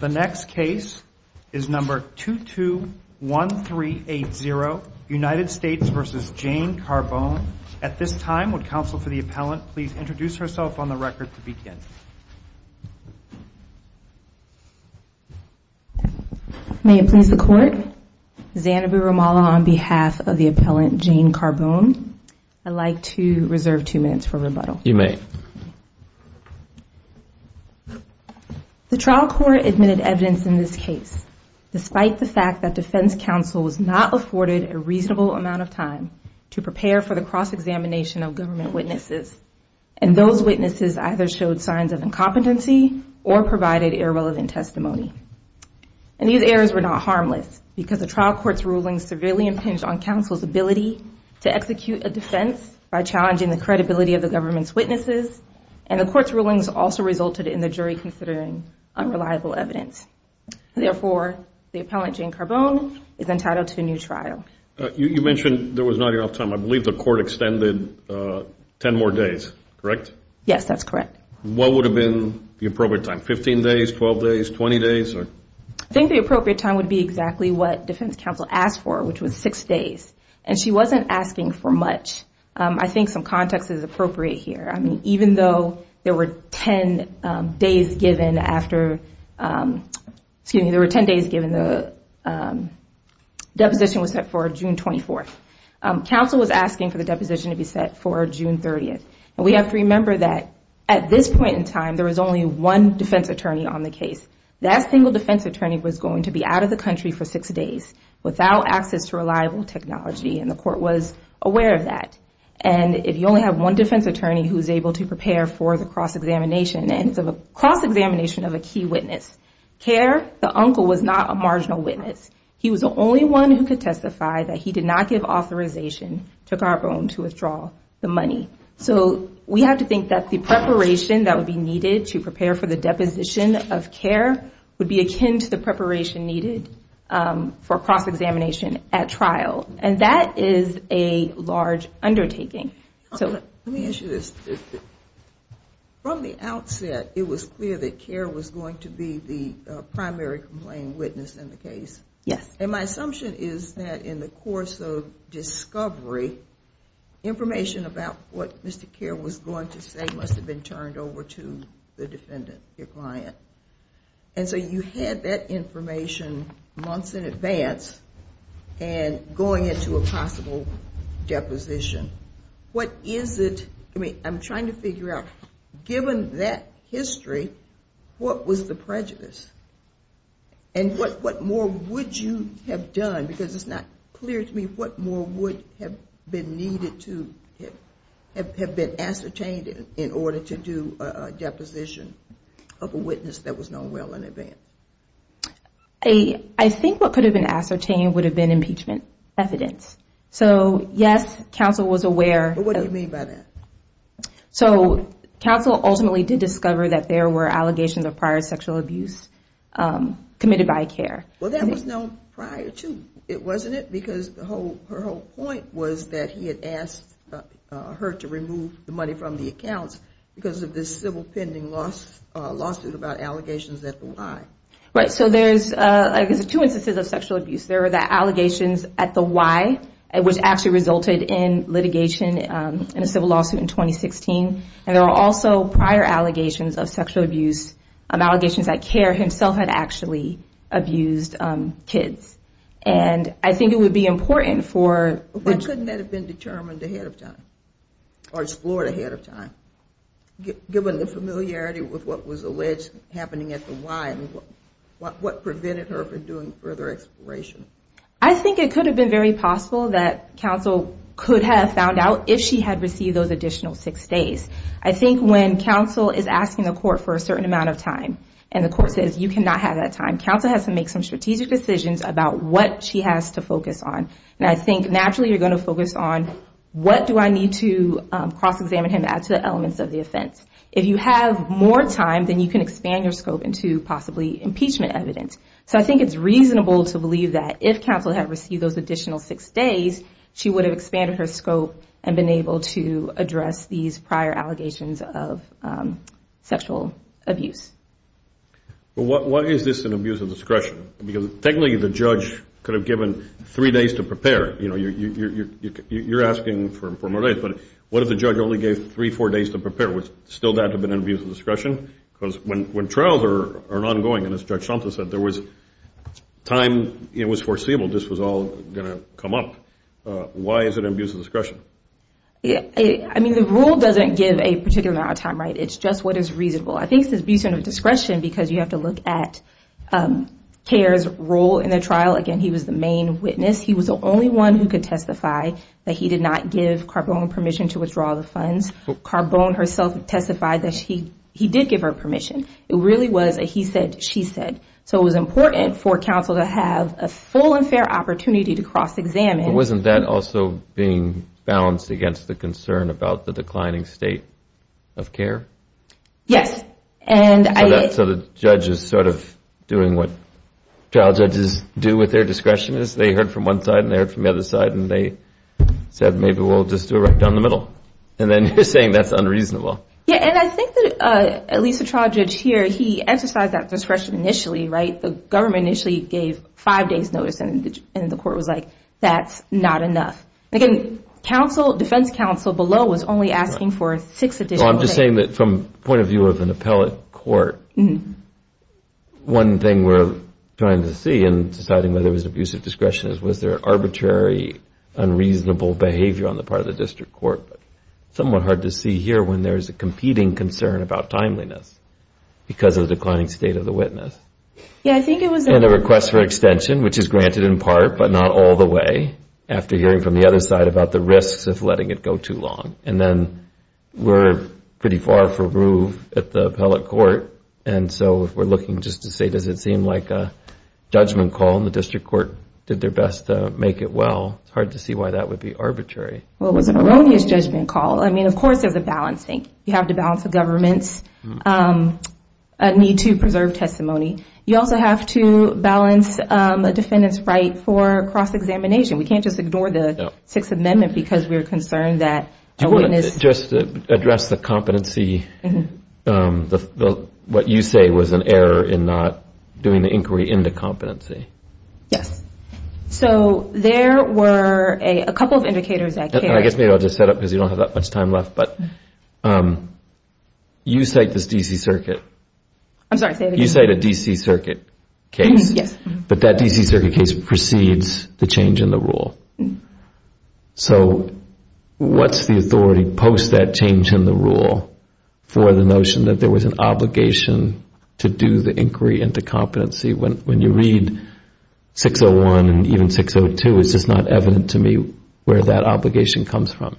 The next case is number 221380, United States v. Jane Carbone. At this time, would counsel for the appellant please introduce herself on the record to begin. May it please the Court, Zanabu Ramallah on behalf of the appellant Jane Carbone. I'd like to reserve two minutes for rebuttal. You may. The trial court admitted evidence in this case. Despite the fact that defense counsel was not afforded a reasonable amount of time to prepare for the cross-examination of government witnesses, and those witnesses either showed signs of incompetency or provided irrelevant testimony. And these errors were not harmless, because the trial court's ruling severely impinged on counsel's ability to execute a defense by challenging the credibility of the government's witnesses. And the court's rulings also resulted in the jury considering unreliable evidence. Therefore, the appellant Jane Carbone is entitled to a new trial. You mentioned there was not enough time. I believe the court extended 10 more days, correct? Yes, that's correct. What would have been the appropriate time, 15 days, 12 days, 20 days? I think the appropriate time would be exactly what defense counsel asked for, which was 6 days. And she wasn't asking for much. I think some context is appropriate here. I mean, even though there were 10 days given after the deposition was set for June 24th, counsel was asking for the deposition to be set for June 30th. And we have to remember that at this point in time, there was only one defense attorney on the case. That single defense attorney was going to be out of the country for 6 days without access to reliable technology, and the court was aware of that. And if you only have one defense attorney who's able to prepare for the cross-examination, and it's a cross-examination of a key witness. Kerr, the uncle, was not a marginal witness. He was the only one who could testify that he did not give authorization to Carbone to withdraw the money. So we have to think that the preparation that would be needed to prepare for the deposition of Kerr would be akin to the preparation needed for cross-examination at trial. And that is a large undertaking. Let me ask you this. From the outset, it was clear that Kerr was going to be the primary complaint witness in the case. Yes. And my assumption is that in the course of discovery, information about what Mr. Kerr was going to say must have been turned over to the defendant, your client. And so you had that information months in advance and going into a possible deposition. What is it? I mean, I'm trying to figure out, given that history, what was the prejudice? And what more would you have done? Because it's not clear to me what more would have been needed to have been ascertained in order to do a deposition of a witness that was known well in advance. I think what could have been ascertained would have been impeachment evidence. So, yes, counsel was aware. What do you mean by that? So counsel ultimately did discover that there were allegations of prior sexual abuse committed by Kerr. Well, that was known prior to. Wasn't it? Because her whole point was that he had asked her to remove the money from the accounts because of this civil pending lawsuit about allegations at the Y. Right. So there's two instances of sexual abuse. There were the allegations at the Y, which actually resulted in litigation in a civil lawsuit in 2016. And there were also prior allegations of sexual abuse, allegations that Kerr himself had actually abused kids. And I think it would be important for. Why couldn't that have been determined ahead of time or explored ahead of time? Given the familiarity with what was alleged happening at the Y, what prevented her from doing further exploration? I think it could have been very possible that counsel could have found out if she had received those additional six days. I think when counsel is asking the court for a certain amount of time and the court says you cannot have that time, counsel has to make some strategic decisions about what she has to focus on. And I think naturally you're going to focus on what do I need to cross-examine him, add to the elements of the offense. If you have more time, then you can expand your scope into possibly impeachment evidence. So I think it's reasonable to believe that if counsel had received those additional six days, she would have expanded her scope and been able to address these prior allegations of sexual abuse. Well, why is this an abuse of discretion? Because technically the judge could have given three days to prepare. You know, you're asking for more days. But what if the judge only gave three, four days to prepare? Would still that have been an abuse of discretion? Because when trials are ongoing, and as Judge Thompson said, there was time, it was foreseeable this was all going to come up. Why is it an abuse of discretion? I mean, the rule doesn't give a particular amount of time, right? It's just what is reasonable. I think it's an abuse of discretion because you have to look at Kerr's role in the trial. Again, he was the main witness. He was the only one who could testify that he did not give Carbone permission to withdraw the funds. Carbone herself testified that he did give her permission. It really was a he said, she said. So it was important for counsel to have a full and fair opportunity to cross-examine. But wasn't that also being balanced against the concern about the declining state of care? Yes. So the judge is sort of doing what trial judges do with their discretion. They heard from one side and they heard from the other side, and they said, maybe we'll just do it right down the middle. And then you're saying that's unreasonable. Yeah, and I think that at least the trial judge here, he emphasized that discretion initially, right? The government initially gave five days notice, and the court was like, that's not enough. Again, defense counsel below was only asking for six additional days. The question is, was there arbitrary, unreasonable behavior on the part of the district court? Somewhat hard to see here when there is a competing concern about timeliness because of the declining state of the witness. Yeah, I think it was. And a request for extension, which is granted in part, but not all the way, after hearing from the other side about the risks of letting it go too long. And then we're pretty far for groove at the appellate court. And so if we're looking just to say, does it seem like a judgment call, and the district court did their best to make it well, it's hard to see why that would be arbitrary. Well, it was an erroneous judgment call. I mean, of course there's a balancing. You have to balance the government's need to preserve testimony. You also have to balance a defendant's right for cross-examination. We can't just ignore the Sixth Amendment because we're concerned that a witness Just to address the competency, what you say was an error in not doing the inquiry into competency. Yes. So there were a couple of indicators that carried. I guess maybe I'll just set up because you don't have that much time left. But you cite this D.C. Circuit. I'm sorry, say it again. You cite a D.C. Circuit case. Yes. But that D.C. Circuit case precedes the change in the rule. So what's the authority post that change in the rule for the notion that there was an obligation to do the inquiry into competency? When you read 601 and even 602, it's just not evident to me where that obligation comes from.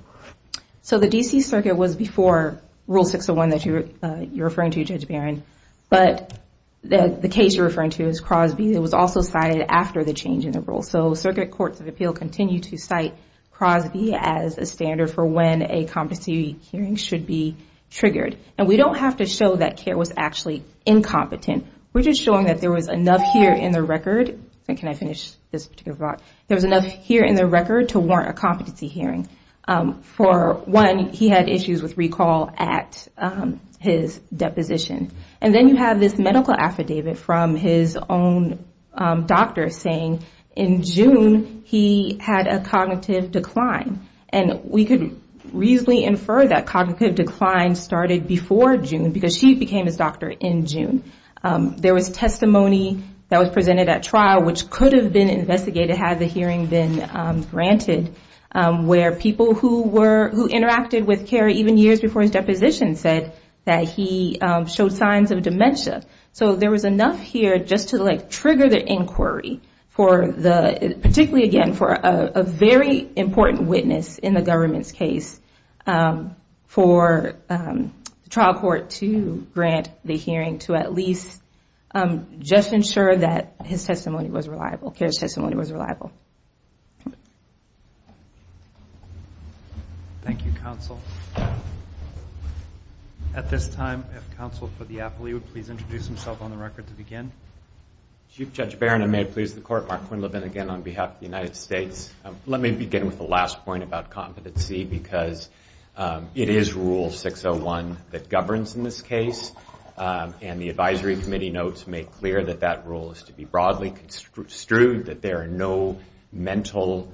So the D.C. Circuit was before Rule 601 that you're referring to, Judge Barron. But the case you're referring to is Crosby. It was also cited after the change in the rule. So Circuit Courts of Appeal continue to cite Crosby as a standard for when a competency hearing should be triggered. And we don't have to show that Kerr was actually incompetent. We're just showing that there was enough here in the record. Can I finish this particular part? There was enough here in the record to warrant a competency hearing. For one, he had issues with recall at his deposition. And then you have this medical affidavit from his own doctor saying in June he had a cognitive decline. And we could reasonably infer that cognitive decline started before June because she became his doctor in June. There was testimony that was presented at trial which could have been investigated had the hearing been granted, where people who interacted with Kerr even years before his deposition said that he showed signs of dementia. So there was enough here just to trigger the inquiry, particularly again for a very important witness in the government's case, for the trial court to grant the hearing to at least just ensure that Kerr's testimony was reliable. Thank you, counsel. At this time, if counsel for the appellee would please introduce himself on the record to begin. Chief Judge Barron, and may it please the court, Mark Quinlivan again on behalf of the United States. Let me begin with the last point about competency because it is Rule 601 that governs in this case. And the advisory committee notes make clear that that rule is to be broadly construed, that there are no mental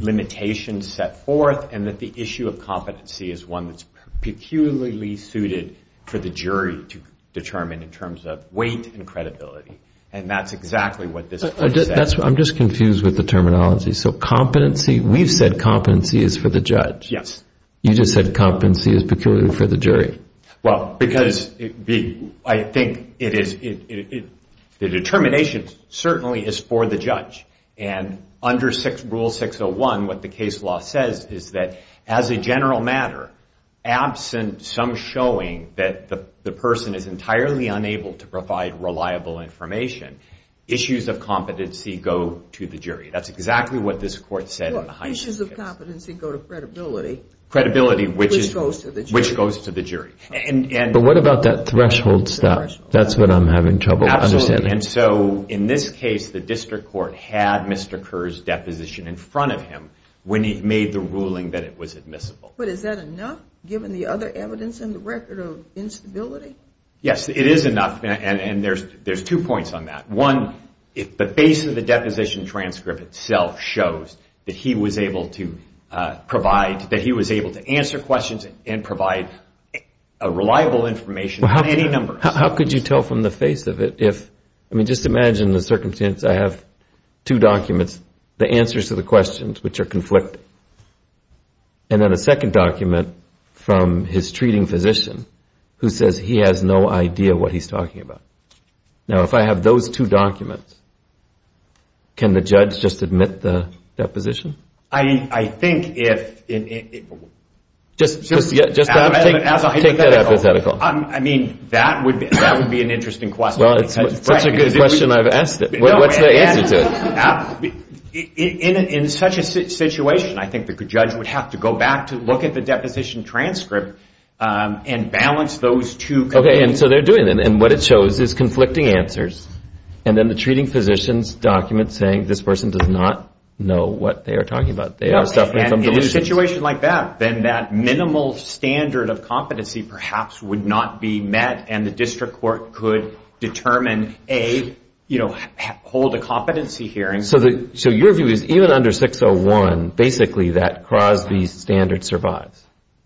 limitations set forth, and that the issue of competency is one that's peculiarly suited for the jury to determine in terms of weight and credibility. And that's exactly what this court said. I'm just confused with the terminology. So competency, we've said competency is for the judge. Yes. You just said competency is peculiarly for the jury. Well, because I think the determination certainly is for the judge. And under Rule 601, what the case law says is that as a general matter, absent some showing that the person is entirely unable to provide reliable information, issues of competency go to the jury. That's exactly what this court said in the Heisman case. Well, issues of competency go to credibility, which goes to the jury. Which goes to the jury. But what about that threshold stuff? That's what I'm having trouble understanding. Absolutely. And so in this case, the district court had Mr. Kerr's deposition in front of him when he made the ruling that it was admissible. But is that enough given the other evidence in the record of instability? Yes, it is enough. And there's two points on that. One, the base of the deposition transcript itself shows that he was able to provide, that he was able to answer questions and provide reliable information in many numbers. How could you tell from the face of it? I mean, just imagine the circumstance. I have two documents, the answers to the questions, which are conflicting. And then a second document from his treating physician, who says he has no idea what he's talking about. Now, if I have those two documents, can the judge just admit the deposition? I think if... Just take that hypothetical. I mean, that would be an interesting question. Well, it's such a good question I've asked it. What's the answer to it? In such a situation, I think the judge would have to go back to look at the deposition transcript and balance those two conclusions. Okay. And so they're doing it. And what it shows is conflicting answers. And then the treating physician's document saying this person does not know what they are talking about. They are suffering from delusions. In a situation like that, then that minimal standard of competency perhaps would not be met. And the district court could determine, A, hold a competency hearing. So your view is even under 601, basically that Crosby standard survives?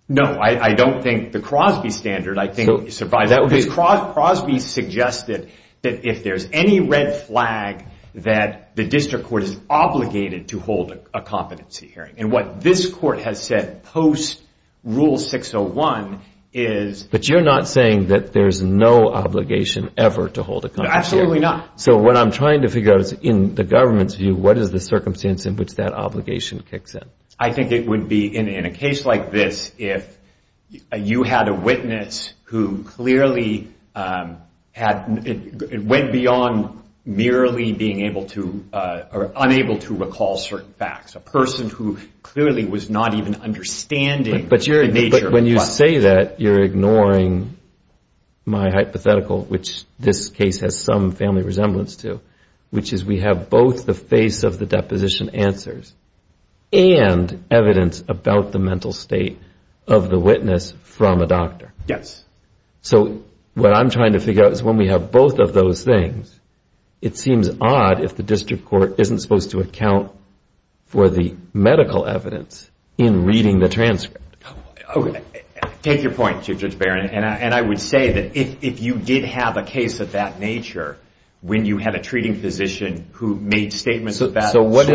No. I don't think the Crosby standard survives. Because Crosby suggested that if there's any red flag, that the district court is obligated to hold a competency hearing. And what this court has said post-Rule 601 is... But you're not saying that there's no obligation ever to hold a competency hearing? Absolutely not. So what I'm trying to figure out is in the government's view, what is the circumstance in which that obligation kicks in? I think it would be in a case like this, if the district court is obligated to hold a competency hearing. You had a witness who clearly went beyond merely being able to or unable to recall certain facts. A person who clearly was not even understanding the nature of the question. But when you say that, you're ignoring my hypothetical, which this case has some family resemblance to, which is we have both the face of the deposition answers and evidence about the mental state of the witness. Yes. So what I'm trying to figure out is when we have both of those things, it seems odd if the district court isn't supposed to account for the medical evidence in reading the transcript. Take your point, Judge Barron. And I would say that if you did have a case of that nature, when you had a treating physician who made statements of that sort...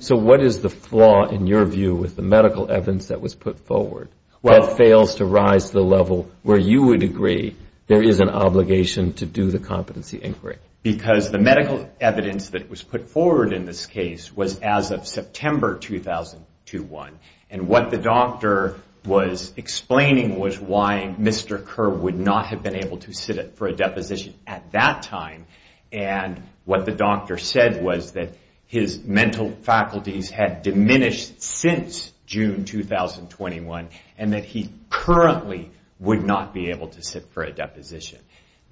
So what is the flaw in your view with the medical evidence that was put forward? What fails to rise to the level where you would agree there is an obligation to do the competency inquiry? Because the medical evidence that was put forward in this case was as of September 2001. And what the doctor was explaining was why Mr. Kerr would not have been able to sit for a deposition at that time. And what the doctor said was that his mental faculties had diminished since June 2021. And that he currently would not be able to sit for a deposition.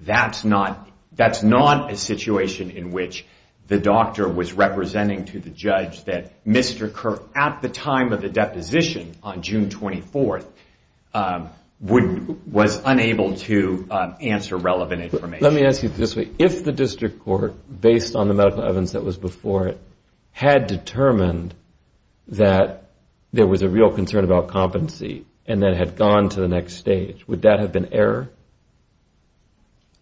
That's not a situation in which the doctor was representing to the judge that Mr. Kerr at the time of the deposition on June 24th was unable to answer relevant information. Let me ask you this way. If the district court, based on the medical evidence that was before it, had determined that there was a real concern about competency, and then had gone to the next stage, would that have been error?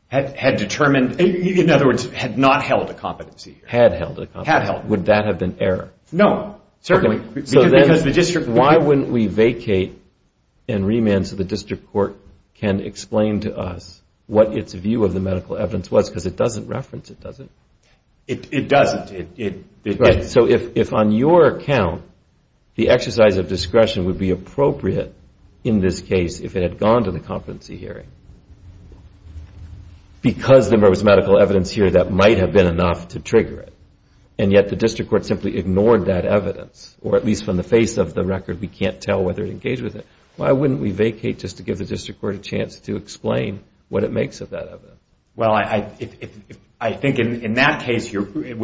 Had determined? In other words, had not held a competency? Had held a competency. Would that have been error? No, certainly. Why wouldn't we vacate and remand so the district court can explain to us what its view of the medical evidence was? Because it doesn't reference it, does it? It doesn't. So if on your account, the exercise of discretion would be appropriate in this case if it had gone to the competency hearing. Because there was medical evidence here that might have been enough to trigger it. And yet the district court simply ignored that evidence. Or at least from the face of the record, we can't tell whether it engaged with it. Why wouldn't we vacate just to give the district court a chance to explain what it makes of that evidence? Well, I think in that case, it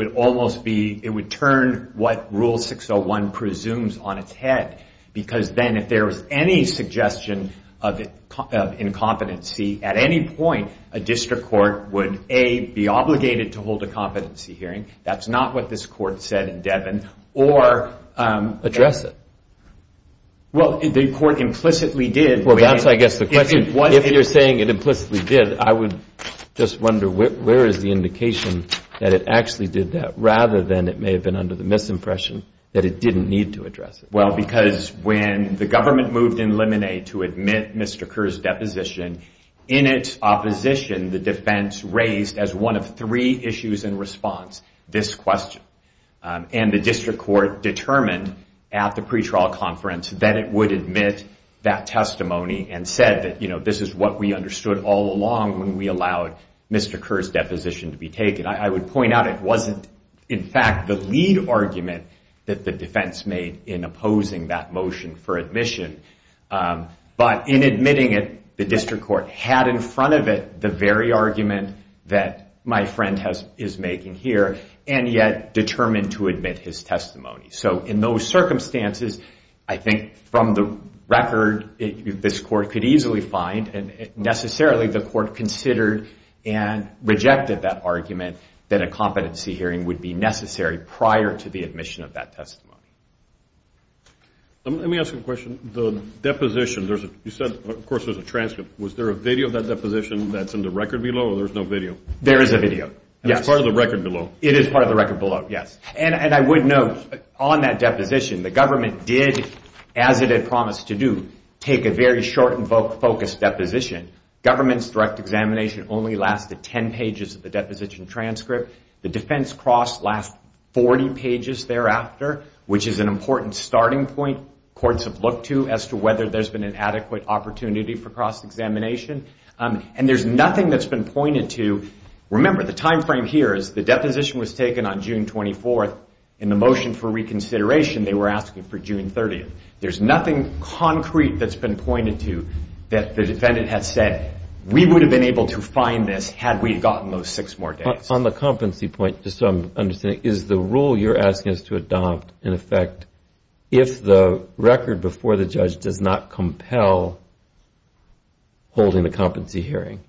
would turn what Rule 601 presumes on its head. Because then if there was any suggestion of incompetency at any point, a district court would A, be obligated to hold a competency hearing. That's not what this court said in Devon. Or address it. Well, the court implicitly did. Well, that's I guess the question. If you're saying it implicitly did, I would just wonder where is the indication that it actually did that rather than it may have been under the misimpression that it didn't need to address it. Well, because when the government moved in Lemonade to admit Mr. Kerr's deposition, in its opposition, the defense raised as one of three issues in response this question. And the district court determined at the pretrial conference that it would admit that testimony. And said that, you know, this is what we understood all along when we allowed Mr. Kerr's deposition to be taken. I would point out it wasn't in fact the lead argument that the defense made in opposing that motion for admission. But in admitting it, the district court had in front of it the very argument that my friend is making here. And yet determined to admit his testimony. So in those circumstances, I think from the record, this could be the case. The district court could easily find and necessarily the court considered and rejected that argument that a competency hearing would be necessary prior to the admission of that testimony. Let me ask you a question. The deposition, you said of course there's a transcript. Was there a video of that deposition that's in the record below or there's no video? There is a video. It's part of the record below. It is part of the record below, yes. And I would note on that deposition, the government did, as it had promised to do, take a very short and focused deposition. Government's direct examination only lasted 10 pages of the deposition transcript. The defense cross last 40 pages thereafter, which is an important starting point courts have looked to as to whether there's been an adequate opportunity for cross-examination. And there's nothing that's been pointed to. Remember, the time frame here is the deposition was taken on June 24th. In the motion for reconsideration, they were asking for June 30th. There's nothing concrete that's been pointed to that the defendant has said, we would have been able to find this had we gotten those six more days. On the competency point, just so I'm understanding, is the rule you're asking us to adopt, in effect, if the record before the judge does not compel holding the competency hearing,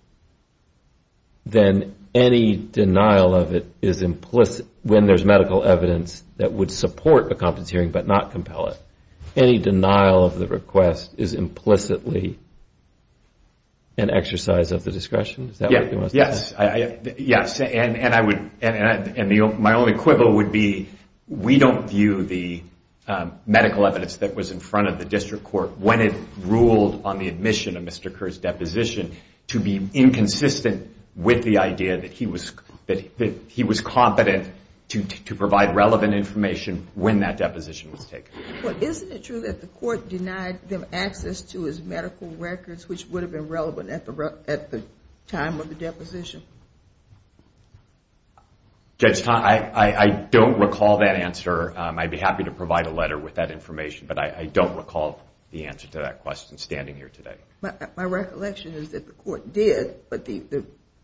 then any denial of it is implicit when there's medical evidence that would support a competency hearing but not compel it. Any denial of the request is implicitly an exercise of the discretion? Yes. And my only quibble would be, we don't view the medical evidence that was in front of the district court when it ruled on the admission of Mr. Kerr's deposition to be inconsistent with the idea that he was competent to provide relevant information when that deposition was taken. Well, isn't it true that the court denied them access to his medical records, which would have been relevant at the time of the deposition? Judge, I don't recall that answer. I'd be happy to provide a letter with that information, but I don't recall the answer to that question standing here today. My recollection is that the court did, but the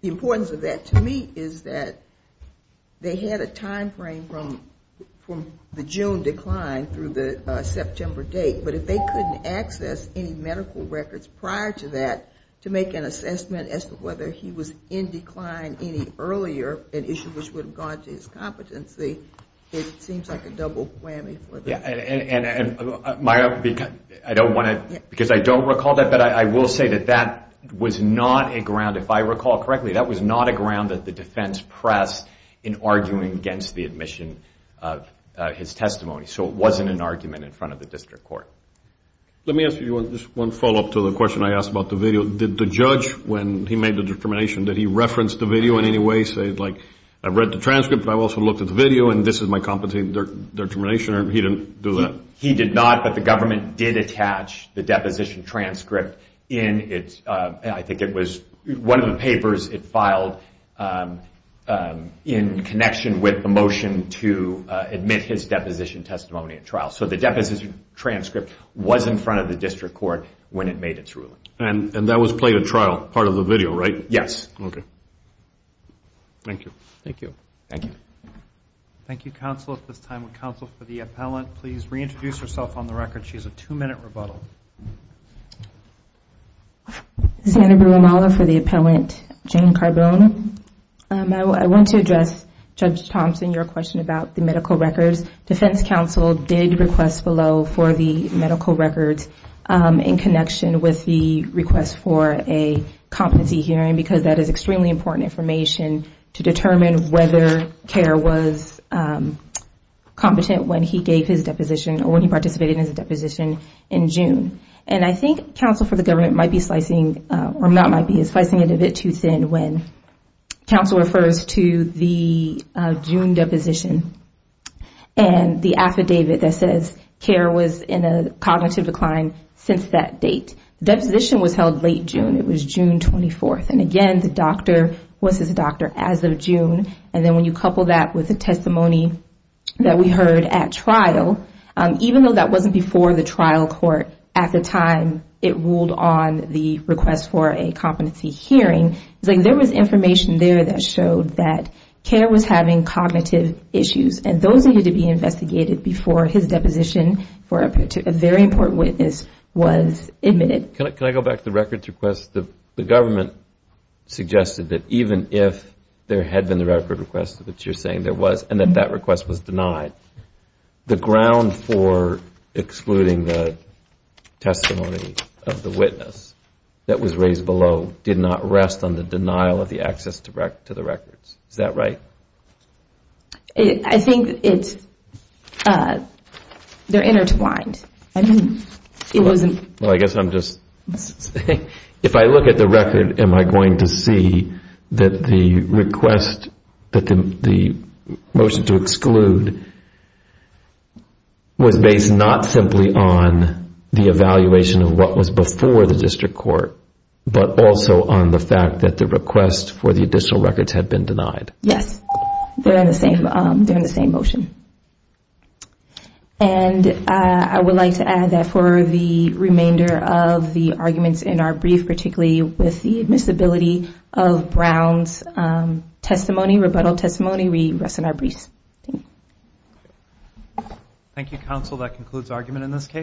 importance of that to me is that they had a timeframe from the June decline through the September date, but if they couldn't access any medical records prior to that to make an assessment as to whether he was in decline any earlier, an issue which would have gone to his competency, it seems like a double whammy for them. I don't want to, because I don't recall that, but I will say that that was not a ground, if I recall correctly, that was not a ground that the defense pressed in arguing against the admission of his testimony, so it wasn't an argument in front of the district court. Let me ask you just one follow-up to the question I asked about the video. Did the judge, when he made the determination, did he reference the video in any way, say, like, I've read the transcript, but I've also looked at the video, and this is my competency determination, or he didn't? He did not, but the government did attach the deposition transcript in, I think it was one of the papers it filed in connection with the motion to admit his deposition testimony at trial, so the deposition transcript was in front of the district court when it made its ruling. And that was played at trial, part of the video, right? Yes. Thank you. Thank you. Thank you. Thank you, counsel. At this time, would counsel for the appellant please reintroduce herself on the record? She has a two-minute rebuttal. I want to address, Judge Thompson, your question about the medical records. Defense counsel did request below for the medical records in connection with the request for a competency hearing, because that is extremely important information to determine whether or not a person has a medical record. And I think counsel for the government might be slicing, or not might be, slicing it a bit too thin when counsel refers to the June deposition, and the affidavit that says care was in a cognitive decline since that date. The deposition was held late June, it was June 24th, and again, the doctor was his doctor as of June 24th. And then when you couple that with the testimony that we heard at trial, even though that wasn't before the trial court at the time it ruled on the request for a competency hearing, there was information there that showed that care was having cognitive issues. And those needed to be investigated before his deposition for a very important witness was admitted. Can I go back to the records request? The government suggested that even if there had been a record request, which you're saying there was, and that that request was denied, the ground for excluding the testimony of the witness that was raised below did not rest on the denial of the access to the records. Is that right? I think they're intertwined. If I look at the record, am I going to see that the request, that the motion to exclude was based not simply on the evaluation of what was before the district court, but also on the fact that the request for the additional records had been denied? Yes, they're in the same motion. And I would like to add that for the remainder of the arguments in our brief, particularly with the admissibility of Brown's testimony, rebuttal testimony, we rest in our briefs. Thank you. Thank you, counsel. That concludes argument in this case.